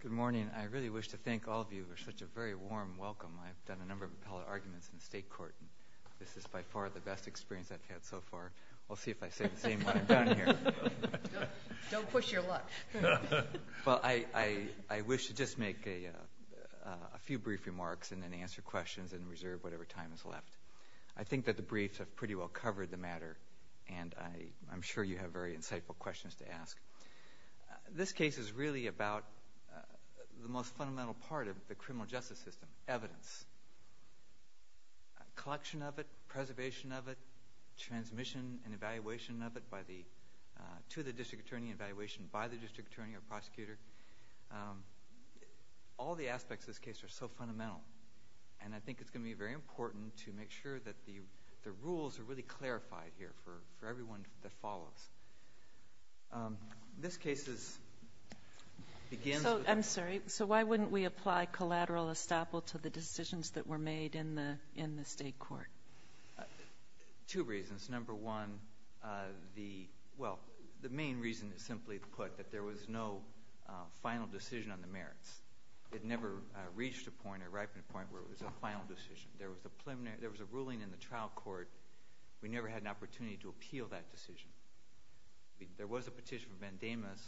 Good morning. I really wish to thank all of you for such a very warm welcome. I've done a number of Pellerin arguments in the State Court, and this is by far the best experience I've had so far. We'll see if I say the same when I'm done here. Don't push your luck. Well, I wish to just make a few brief remarks and then answer questions and reserve whatever time is left. I think that the briefs have pretty well covered the matter, and I'm sure you have very insightful questions to ask. This case is really about the most fundamental part of the criminal justice system, evidence. Collection of it, preservation of it, transmission and evaluation of it to the district attorney and evaluation by the district attorney or prosecutor. All the aspects of this case are so fundamental, and I think it's going to be very important to make sure that the rules are really clarified here for everyone that follows. This case begins with... I'm sorry. So why wouldn't we apply collateral estoppel to the decisions that were made in the State Court? Two reasons. Number one, the main reason is simply put, that there was no final decision on the merits. It never reached a point, a ripening point, where it was a final decision. There was a ruling in the trial court. We never had an opportunity to appeal that decision. There was a petition from Vandamus.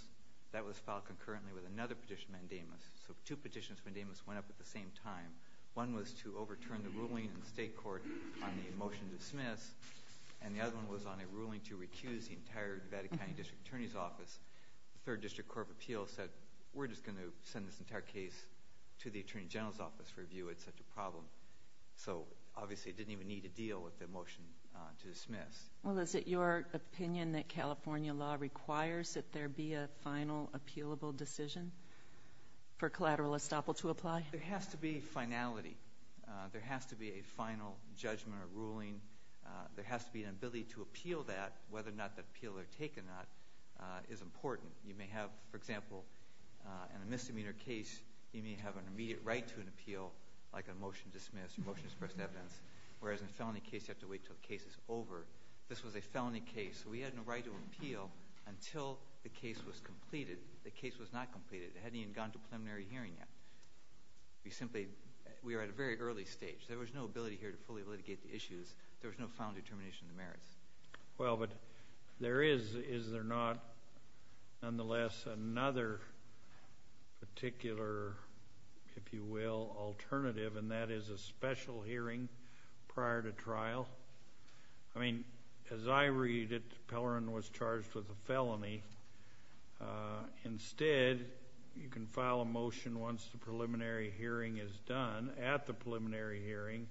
That was filed concurrently with another petition from Vandamus. So two petitions from Vandamus went up at the same time. One was to overturn the ruling in the State Court on the motion to dismiss, and the other one was on a ruling to recuse the entire Nevada County District Attorney's Office. The Third District Court of Appeals said, we're just going to send this entire case to the Attorney General's Office for review. It's such a problem. So obviously it didn't even need to deal with the motion to dismiss. Well, is it your opinion that California law requires that there be a final appealable decision for collateral estoppel to apply? There has to be finality. There has to be a final judgment or ruling. There has to be an ability to appeal that, whether or not the appeal or taking that is important. You may have, for example, in a misdemeanor case, you may have an immediate right to an appeal, like a motion to dismiss or motion to express evidence. Whereas in a felony case, you have to wait until the case is over. This was a felony case, so we had no right to appeal until the case was completed. The case was not completed. It hadn't even gone to preliminary hearing yet. We are at a very early stage. There was no ability here to fully litigate the issues. There was no final determination of the merits. Well, but is there not, nonetheless, another particular, if you will, alternative, and that is a special hearing prior to trial? I mean, as I read it, Pellerin was charged with a felony. Instead, you can file a motion once the preliminary hearing is done at the preliminary hearing,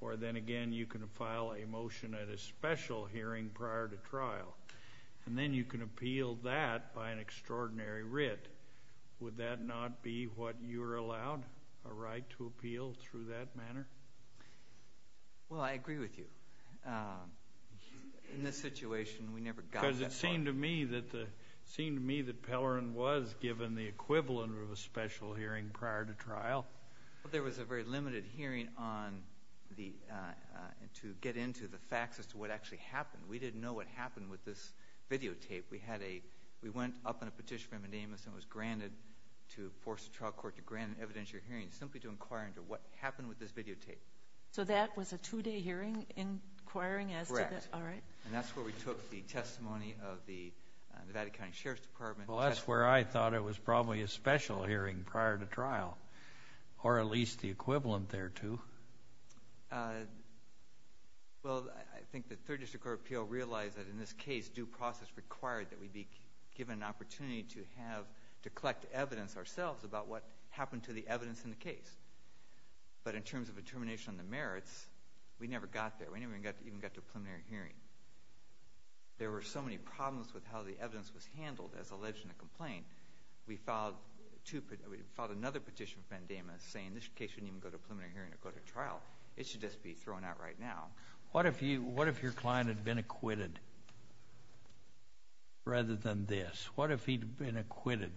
or then again, you can file a motion at a special hearing prior to trial, and then you can appeal that by an extraordinary writ. Would that not be what you are allowed, a right to appeal through that manner? Well, I agree with you. In this situation, we never got that far. Because it seemed to me that Pellerin was given the equivalent of a special hearing prior to trial. Well, there was a very limited hearing to get into the facts as to what actually happened. We didn't know what happened with this videotape. We went up on a petition from a name that was granted to force the trial court to grant an evidentiary hearing simply to inquire into what happened with this videotape. So that was a two-day hearing inquiring as to the… Correct. All right. And that's where we took the testimony of the Nevada County Sheriff's Department. Well, that's where I thought it was probably a special hearing prior to trial, or at least the equivalent thereto. Well, I think the Third District Court of Appeal realized that in this case, due process required that we be given an opportunity to have, to collect evidence ourselves about what happened to the evidence in the case. But in terms of determination on the merits, we never got there. We never even got to a preliminary hearing. There were so many problems with how the evidence was handled as alleged in the complaint. We filed another petition from NDAMA saying this case shouldn't even go to a preliminary hearing or go to trial. It should just be thrown out right now. What if your client had been acquitted rather than this? What if he'd been acquitted?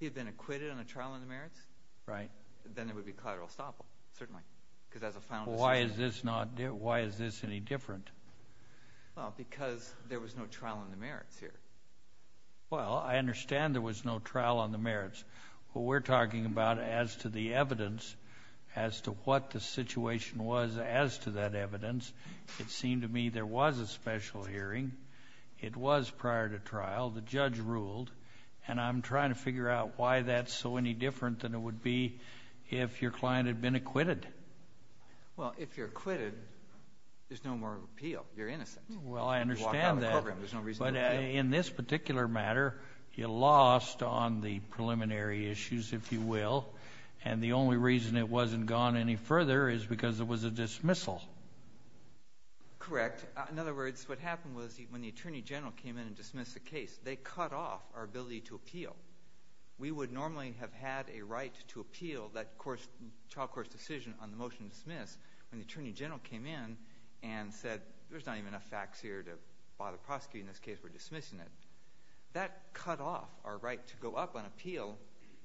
He'd been acquitted on a trial on the merits? Right. Then it would be collateral estoppel, certainly, because as a final decision. Why is this any different? Well, because there was no trial on the merits here. Well, I understand there was no trial on the merits. What we're talking about as to the evidence, as to what the situation was as to that evidence, it seemed to me there was a special hearing. It was prior to trial. The judge ruled. And I'm trying to figure out why that's so any different than it would be if your client had been acquitted. Well, if you're acquitted, there's no more appeal. You're innocent. Well, I understand that. You walk out of the program. There's no reason to appeal. But in this particular matter, you lost on the preliminary issues, if you will. And the only reason it wasn't gone any further is because it was a dismissal. Correct. In other words, what happened was when the attorney general came in and dismissed the case, they cut off our ability to appeal. We would normally have had a right to appeal that trial court's decision on the motion to dismiss when the attorney general came in and said, there's not even enough facts here to bother prosecuting this case, we're dismissing it. That cut off our right to go up on appeal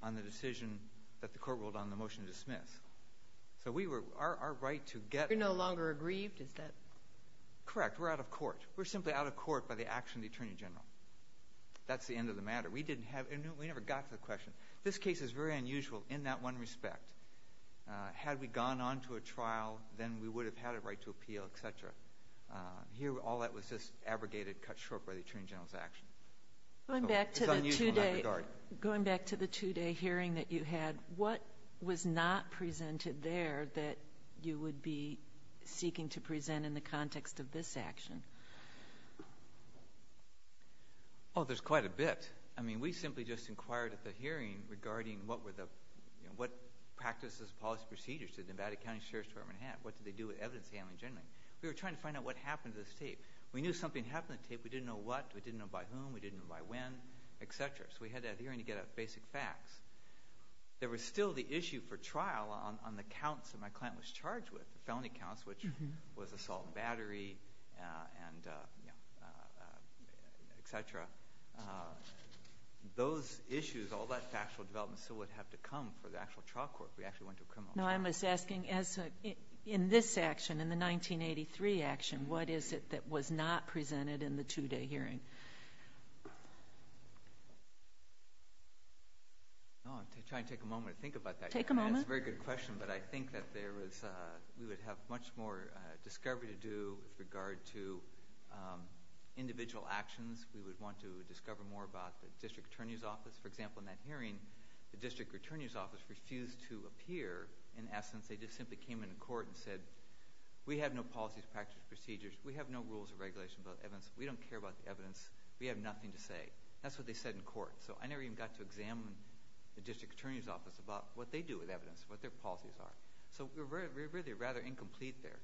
on the decision that the court ruled on the motion to dismiss. So our right to get there. You're no longer aggrieved? Correct. We're out of court. We're simply out of court by the action of the attorney general. That's the end of the matter. We never got to the question. This case is very unusual in that one respect. Had we gone on to a trial, then we would have had a right to appeal, et cetera. Here, all that was just abrogated, cut short by the attorney general's action. It's unusual in that regard. Going back to the two-day hearing that you had, what was not presented there that you would be seeking to present in the context of this action? Oh, there's quite a bit. I mean, we simply just inquired at the hearing regarding what practices, policies, procedures did Nevada County Sheriff's Department have? What did they do with evidence handling generally? We were trying to find out what happened to this tape. We knew something happened to the tape. We didn't know what. We didn't know by whom. We didn't know by when, et cetera. So we had that hearing to get at basic facts. There was still the issue for trial on the counts that my client was charged with, felony counts, which was assault and battery, et cetera. Those issues, all that factual development still would have to come for the actual trial court. We actually went to a criminal court. No, I'm just asking, in this action, in the 1983 action, what is it that was not presented in the two-day hearing? I'll try and take a moment to think about that. Take a moment. That's a very good question, but I think that we would have much more discovery to do with regard to individual actions. We would want to discover more about the district attorney's office. For example, in that hearing, the district attorney's office refused to appear. In essence, they just simply came into court and said, we have no policies, practices, procedures. We have no rules or regulations about evidence. We don't care about the evidence. We have nothing to say. That's what they said in court. So I never even got to examine the district attorney's office about what they do with evidence, what their policies are. So we were really rather incomplete there.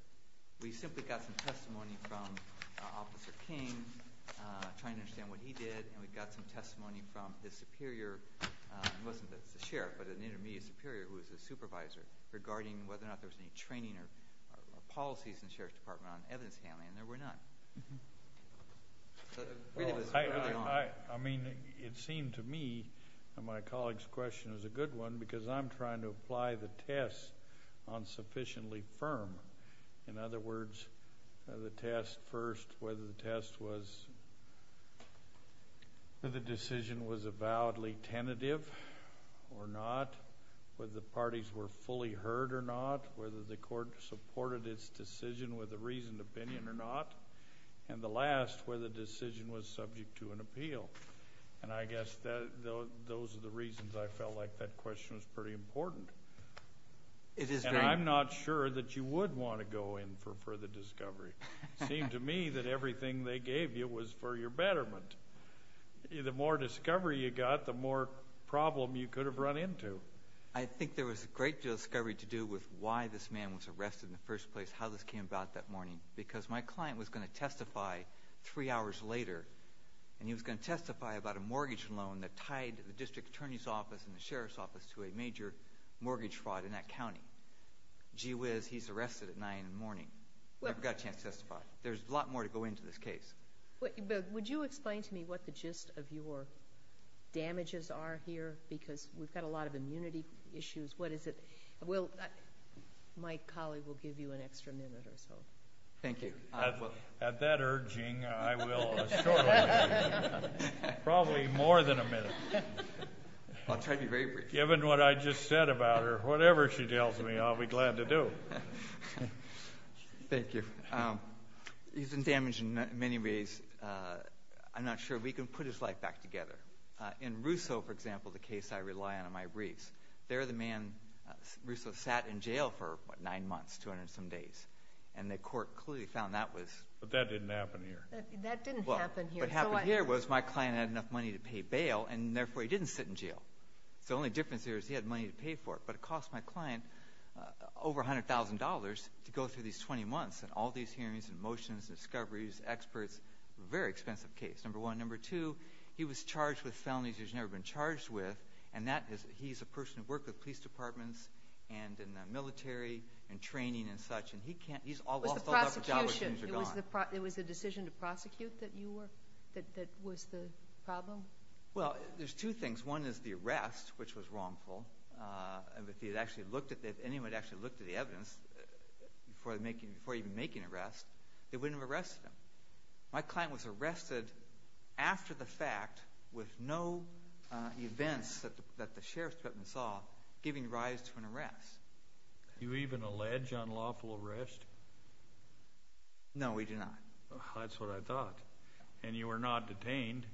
We simply got some testimony from Officer King, trying to understand what he did, and we got some testimony from his superior. He wasn't the sheriff, but an intermediate superior who was his supervisor, regarding whether or not there was any training or policies in the sheriff's department on evidence handling, and there were none. I mean, it seemed to me, and my colleague's question is a good one, because I'm trying to apply the test on sufficiently firm. In other words, the test first, whether the test was, whether the decision was avowedly tentative or not, whether the parties were fully heard or not, whether the court supported its decision with a reasoned opinion or not, and the last, whether the decision was subject to an appeal. And I guess those are the reasons I felt like that question was pretty important. It is very important. And I'm not sure that you would want to go in for further discovery. It seemed to me that everything they gave you was for your betterment. The more discovery you got, the more problem you could have run into. I think there was a great deal of discovery to do with why this man was arrested in the first place, how this came about that morning, because my client was going to testify three hours later, and he was going to testify about a mortgage loan that tied the district attorney's office and the sheriff's office to a major mortgage fraud in that county. Gee whiz, he's arrested at 9 in the morning. Never got a chance to testify. There's a lot more to go into this case. But would you explain to me what the gist of your damages are here? Because we've got a lot of immunity issues. What is it? Well, my colleague will give you an extra minute or so. At that urging, I will assure you, probably more than a minute. I'll try to be very brief. Given what I just said about her, whatever she tells me, I'll be glad to do. Thank you. He's been damaged in many ways. I'm not sure if he can put his life back together. In Russo, for example, the case I rely on in my briefs, there the man, Russo, sat in jail for, what, nine months, 200 and some days, and the court clearly found that was... But that didn't happen here. That didn't happen here. What happened here was my client had enough money to pay bail, and therefore he didn't sit in jail. The only difference here is he had money to pay for it. But it cost my client over $100,000 to go through these 20 months and all these hearings and motions and discoveries, experts, a very expensive case, number one. Number two, he was charged with felonies he's never been charged with, and that is he's a person who worked with police departments and in the military and training and such, and he can't... It was the prosecution. It was the decision to prosecute that was the problem? Well, there's two things. One is the arrest, which was wrongful. If anyone had actually looked at the evidence before even making an arrest, they wouldn't have arrested him. My client was arrested after the fact with no events that the sheriff's department saw giving rise to an arrest. Do you even allege unlawful arrest? No, we do not. That's what I thought. And you were not detained,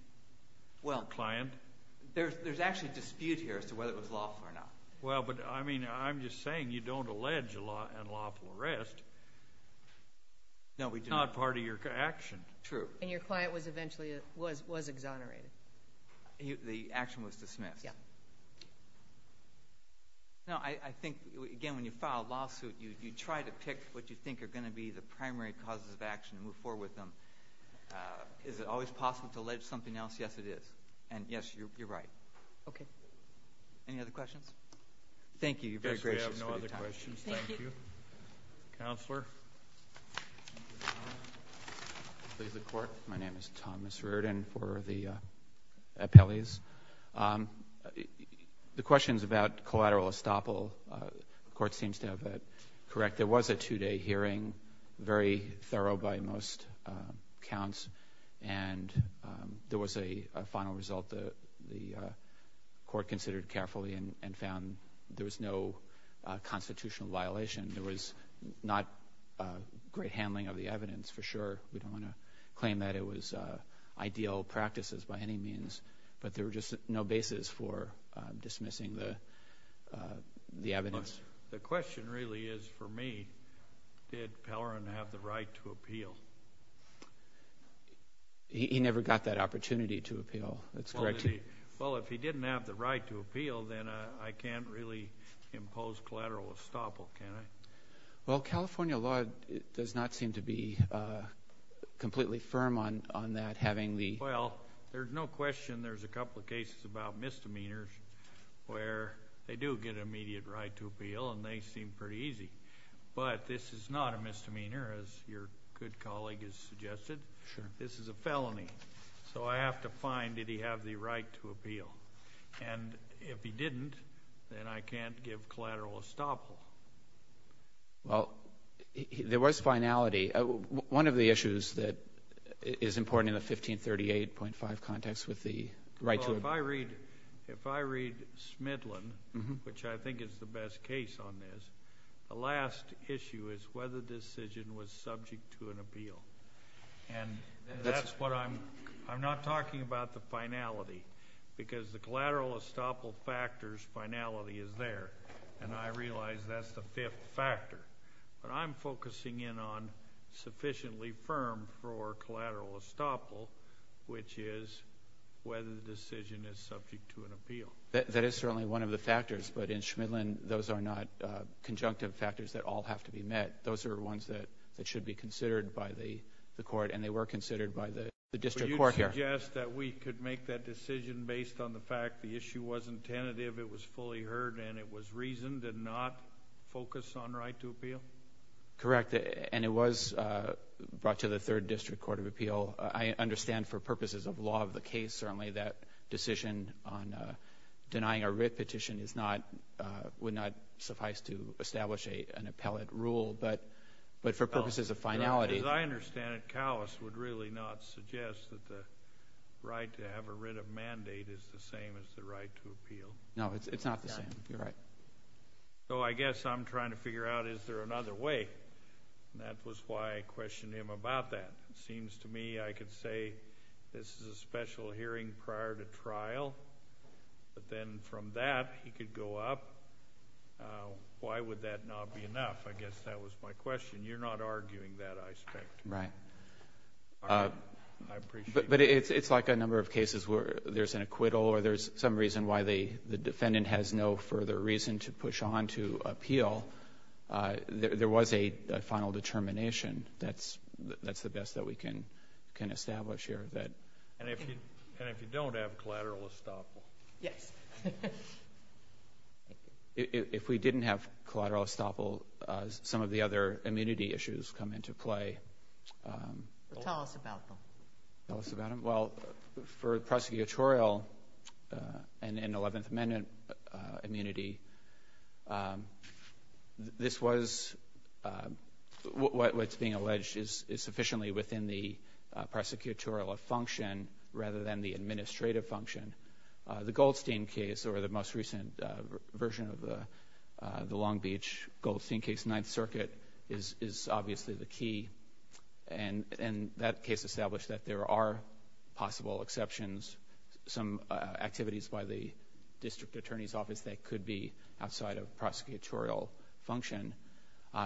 your client? Well, there's actually a dispute here as to whether it was lawful or not. Well, but I'm just saying you don't allege unlawful arrest. No, we do not. It's not part of your action. True. And your client was eventually exonerated. The action was dismissed? Yes. No, I think, again, when you file a lawsuit, you try to pick what you think are going to be the primary causes of action and move forward with them. Is it always possible to allege something else? Yes, it is. And, yes, you're right. Okay. Any other questions? Thank you. You're very gracious for your time. I guess we have no other questions. Thank you. Counselor? Please, the Court. My name is Thomas Reardon for the appellees. The questions about collateral estoppel, the Court seems to have it correct. There was a two-day hearing, very thorough by most counts, and there was a final result the Court considered carefully and found there was no constitutional violation. We don't want to claim that it was ideal practices by any means, but there was just no basis for dismissing the evidence. The question really is, for me, did Pellerin have the right to appeal? He never got that opportunity to appeal. That's correct. Well, if he didn't have the right to appeal, then I can't really impose collateral estoppel, can I? Well, California law does not seem to be completely firm on that, having the ---- Well, there's no question there's a couple of cases about misdemeanors where they do get immediate right to appeal and they seem pretty easy. But this is not a misdemeanor, as your good colleague has suggested. This is a felony. So I have to find, did he have the right to appeal? And if he didn't, then I can't give collateral estoppel. Well, there was finality. One of the issues that is important in the 1538.5 context with the right to appeal. Well, if I read Smidlin, which I think is the best case on this, the last issue is whether the decision was subject to an appeal. And that's what I'm ---- I'm not talking about the finality because the collateral estoppel factors finality is there, and I realize that's the fifth factor. But I'm focusing in on sufficiently firm for collateral estoppel, which is whether the decision is subject to an appeal. That is certainly one of the factors, but in Smidlin those are not conjunctive factors that all have to be met. Those are ones that should be considered by the court, and they were considered by the district court here. But you suggest that we could make that decision based on the fact the issue wasn't tentative, it was fully heard, and it was reasoned and not focused on right to appeal? Correct. And it was brought to the Third District Court of Appeal. I understand for purposes of law of the case, certainly, that decision on denying a writ petition would not suffice to establish an appellate rule. But for purposes of finality. As I understand it, Cowess would really not suggest that the right to have a writ of mandate is the same as the right to appeal. No, it's not the same. You're right. So I guess I'm trying to figure out is there another way, and that was why I questioned him about that. It seems to me I could say this is a special hearing prior to trial, but then from that he could go up. Why would that not be enough? I guess that was my question. You're not arguing that, I suspect. Right. But it's like a number of cases where there's an acquittal or there's some reason why the defendant has no further reason to push on to appeal. There was a final determination. That's the best that we can establish here. And if you don't have collateral estoppel? Yes. If we didn't have collateral estoppel, some of the other immunity issues come into play. Tell us about them. Tell us about them. Well, for prosecutorial and 11th Amendment immunity, this was what's being alleged is sufficiently within the prosecutorial function rather than the administrative function. The Goldstein case or the most recent version of the Long Beach Goldstein case, Ninth Circuit, is obviously the key. And that case established that there are possible exceptions, some activities by the district attorney's office that could be outside of prosecutorial function.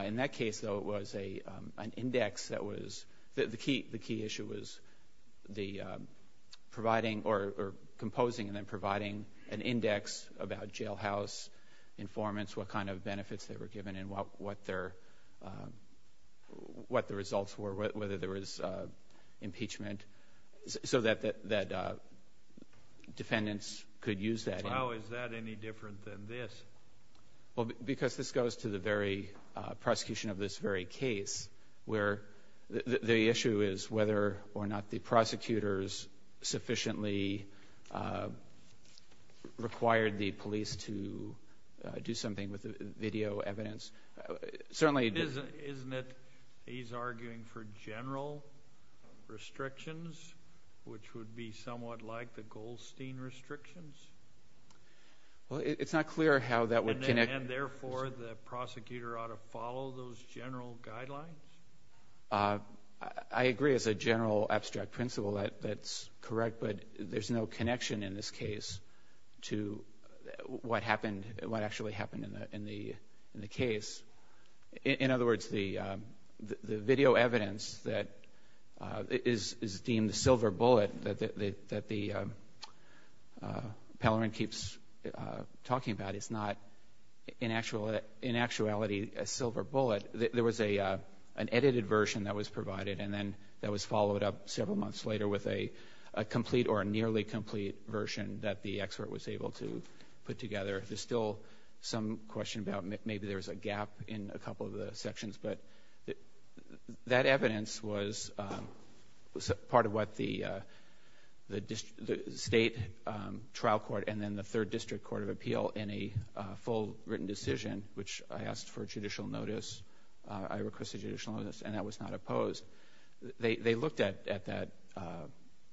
In that case, though, it was an index that was the key issue was the providing or composing and then providing an index about jailhouse informants, what kind of benefits they were given and what the results were, whether there was impeachment, so that defendants could use that. How is that any different than this? Because this goes to the very prosecution of this very case where the issue is whether or not the prosecutors sufficiently required the police to do something with the video evidence. Isn't it he's arguing for general restrictions, which would be somewhat like the Goldstein restrictions? Well, it's not clear how that would connect. And, therefore, the prosecutor ought to follow those general guidelines? I agree it's a general abstract principle that's correct, but there's no connection in this case to what happened, what actually happened in the case. In other words, the video evidence that is deemed a silver bullet that the panel keeps talking about is not in actuality a silver bullet. There was an edited version that was provided, and then that was followed up several months later with a complete or a nearly complete version that the expert was able to put together. There's still some question about maybe there's a gap in a couple of the sections, but that evidence was part of what the state trial court and then the third district court of appeal in a full written decision, which I asked for judicial notice. I requested judicial notice, and that was not opposed. They looked at that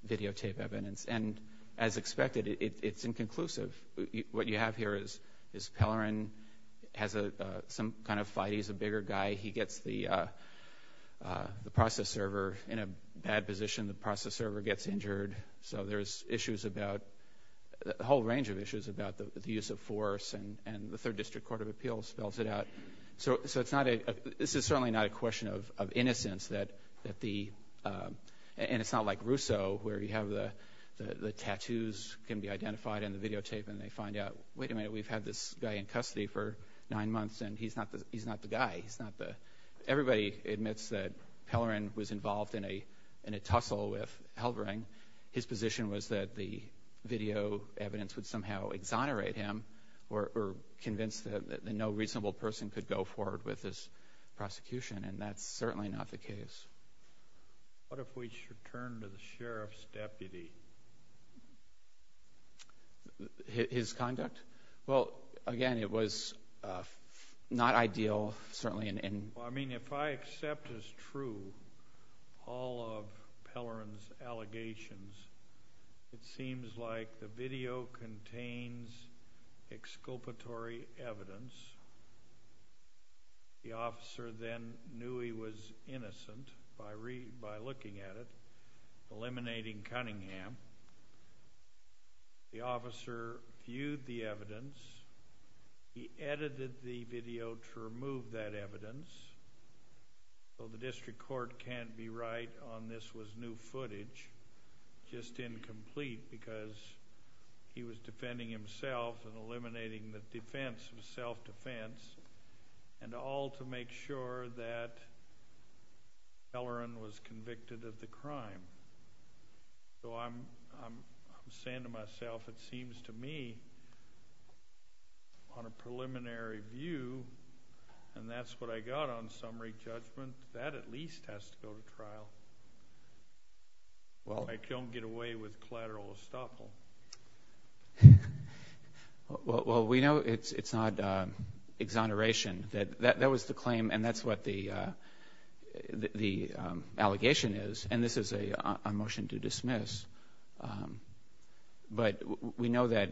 videotape evidence, and as expected, it's inconclusive. What you have here is Pellerin has some kind of fight. He's a bigger guy. He gets the process server in a bad position. The process server gets injured. So there's issues about, a whole range of issues about the use of force, and the third district court of appeals spells it out. So this is certainly not a question of innocence, and it's not like Rousseau, where you have the tattoos can be identified in the videotape, and they find out, wait a minute, we've had this guy in custody for nine months, and he's not the guy. Everybody admits that Pellerin was involved in a tussle with Helbring. His position was that the video evidence would somehow exonerate him or convince him that no reasonable person could go forward with this prosecution, and that's certainly not the case. What if we should turn to the sheriff's deputy? His conduct? Well, again, it was not ideal, certainly. I mean, if I accept as true all of Pellerin's allegations, it seems like the video contains exculpatory evidence. The officer then knew he was innocent by looking at it, eliminating Cunningham. The officer viewed the evidence. He edited the video to remove that evidence, so the district court can't be right on this was new footage, just incomplete because he was defending himself and eliminating the defense of self-defense, and all to make sure that Pellerin was convicted of the crime. So I'm saying to myself, it seems to me, on a preliminary view, and that's what I got on summary judgment, that at least has to go to trial. I don't get away with collateral estoppel. Well, we know it's not exoneration. That was the claim, and that's what the allegation is, and this is a motion to dismiss. But we know that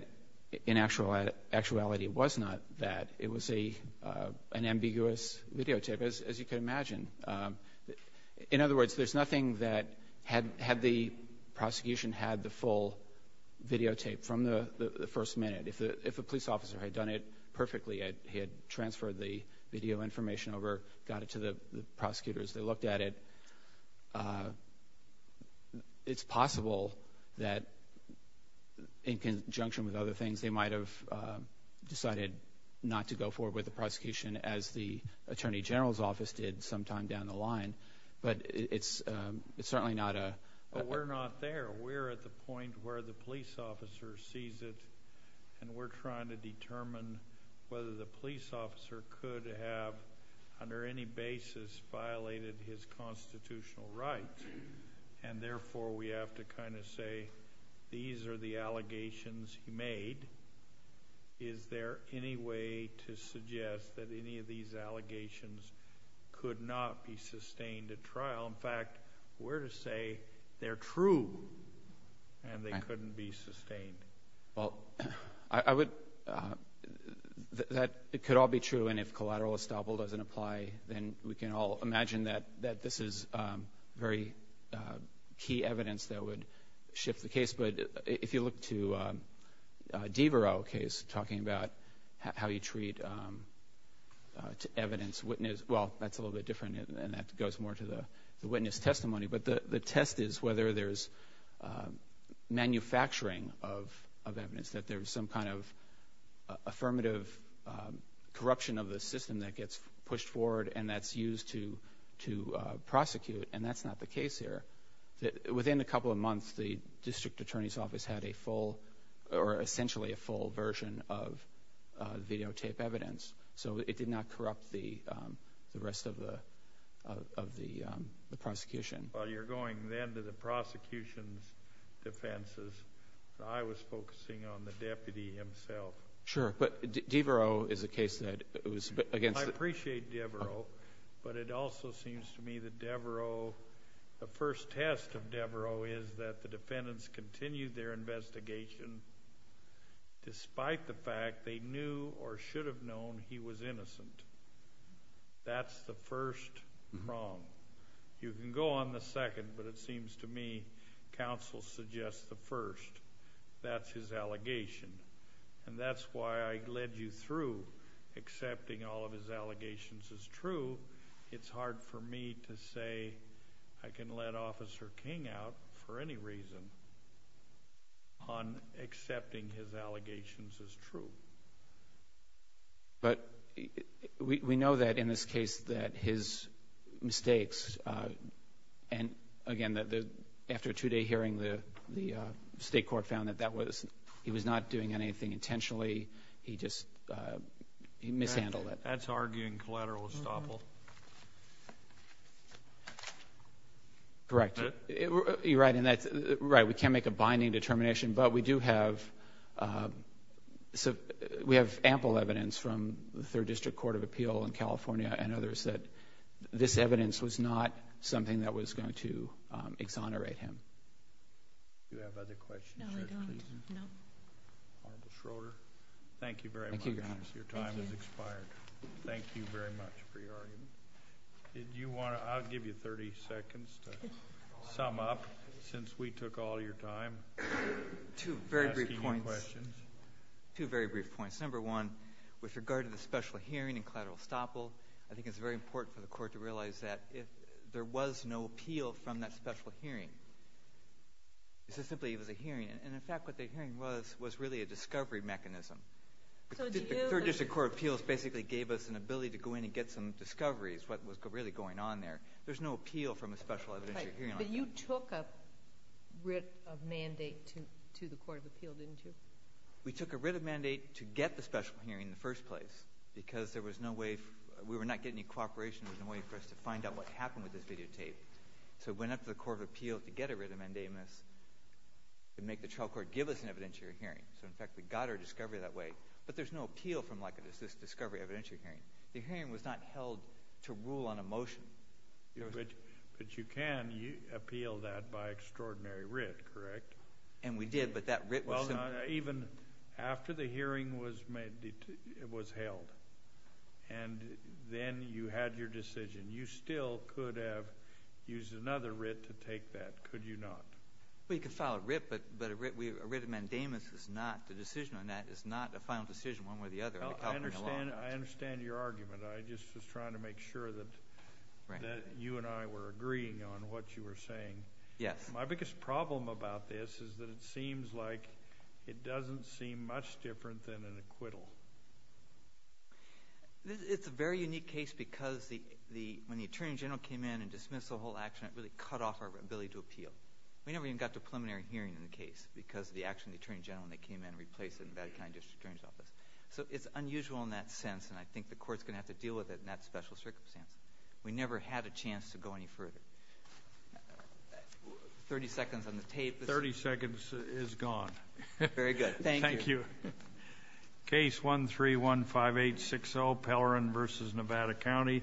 in actuality it was not that. It was an ambiguous videotape, as you can imagine. In other words, there's nothing that had the prosecution had the full videotape from the first minute. If a police officer had done it perfectly, as they looked at it, it's possible that in conjunction with other things, they might have decided not to go forward with the prosecution as the attorney general's office did sometime down the line. But it's certainly not a… But we're not there. We're at the point where the police officer sees it, and we're trying to determine whether the police officer could have, under any basis, violated his constitutional rights, and therefore we have to kind of say these are the allegations he made. Is there any way to suggest that any of these allegations could not be sustained at trial? In fact, we're to say they're true and they couldn't be sustained. Well, I would… It could all be true, and if collateral estoppel doesn't apply, then we can all imagine that this is very key evidence that would shift the case. But if you look to Devereux's case, talking about how you treat evidence, well, that's a little bit different, and that goes more to the witness testimony. But the test is whether there's manufacturing of evidence, that there's some kind of affirmative corruption of the system that gets pushed forward and that's used to prosecute, and that's not the case here. Within a couple of months, the district attorney's office had a full or essentially a full version of videotape evidence. So it did not corrupt the rest of the prosecution. Well, you're going then to the prosecution's defenses. I was focusing on the deputy himself. Sure, but Devereux is a case that was against… I appreciate Devereux, but it also seems to me that Devereux, the first test of Devereux is that the defendants continued their investigation despite the fact they knew or should have known he was innocent. That's the first wrong. You can go on the second, but it seems to me counsel suggests the first. That's his allegation, and that's why I led you through accepting all of his allegations as true. It's hard for me to say I can let Officer King out for any reason on accepting his allegations as true. But we know that in this case that his mistakes, and again after a two-day hearing the state court found that he was not doing anything intentionally. He just mishandled it. That's arguing collateral estoppel. Correct. You're right. We can't make a binding determination, but we do have ample evidence from the Third District Court of Appeal in California and others that this evidence was not something that was going to exonerate him. Do you have other questions? No, I don't. Honorable Schroeder, thank you very much. Your time has expired. Thank you very much for your argument. I'll give you 30 seconds to sum up since we took all your time. Two very brief points. Asking you questions. Two very brief points. Number one, with regard to the special hearing and collateral estoppel, I think it's very important for the court to realize that there was no appeal from that special hearing. It was simply a hearing, and in fact what the hearing was was really a discovery mechanism. The Third District Court of Appeals basically gave us an ability to go in and get some discoveries, what was really going on there. There's no appeal from a special evidentiary hearing. But you took a writ of mandate to the Court of Appeal, didn't you? We took a writ of mandate to get the special hearing in the first place because we were not getting any cooperation. There was no way for us to find out what happened with this videotape. So we went up to the Court of Appeal to get a writ of mandamus to make the trial court give us an evidentiary hearing. So, in fact, we got our discovery that way. But there's no appeal from this discovery evidentiary hearing. The hearing was not held to rule on a motion. But you can appeal that by extraordinary writ, correct? And we did, but that writ was simply— Even after the hearing was held and then you had your decision, you still could have used another writ to take that, could you not? Well, you could file a writ, but a writ of mandamus is not— the decision on that is not a final decision one way or the other under California law. I understand your argument. I just was trying to make sure that you and I were agreeing on what you were saying. My biggest problem about this is that it seems like it doesn't seem much different than an acquittal. It's a very unique case because when the Attorney General came in and dismissed the whole action, it really cut off our ability to appeal. We never even got to a preliminary hearing in the case because of the action of the Attorney General and they came in and replaced it in the Nevada County District Attorney's Office. So it's unusual in that sense, and I think the Court's going to have to deal with it in that special circumstance. We never had a chance to go any further. Thirty seconds on the tape. Thirty seconds is gone. Very good. Thank you. Thank you. Case 1315860, Pellerin v. Nevada County,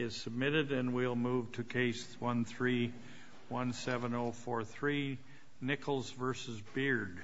is submitted, and we'll move to Case 1317043, Nichols v. Beard.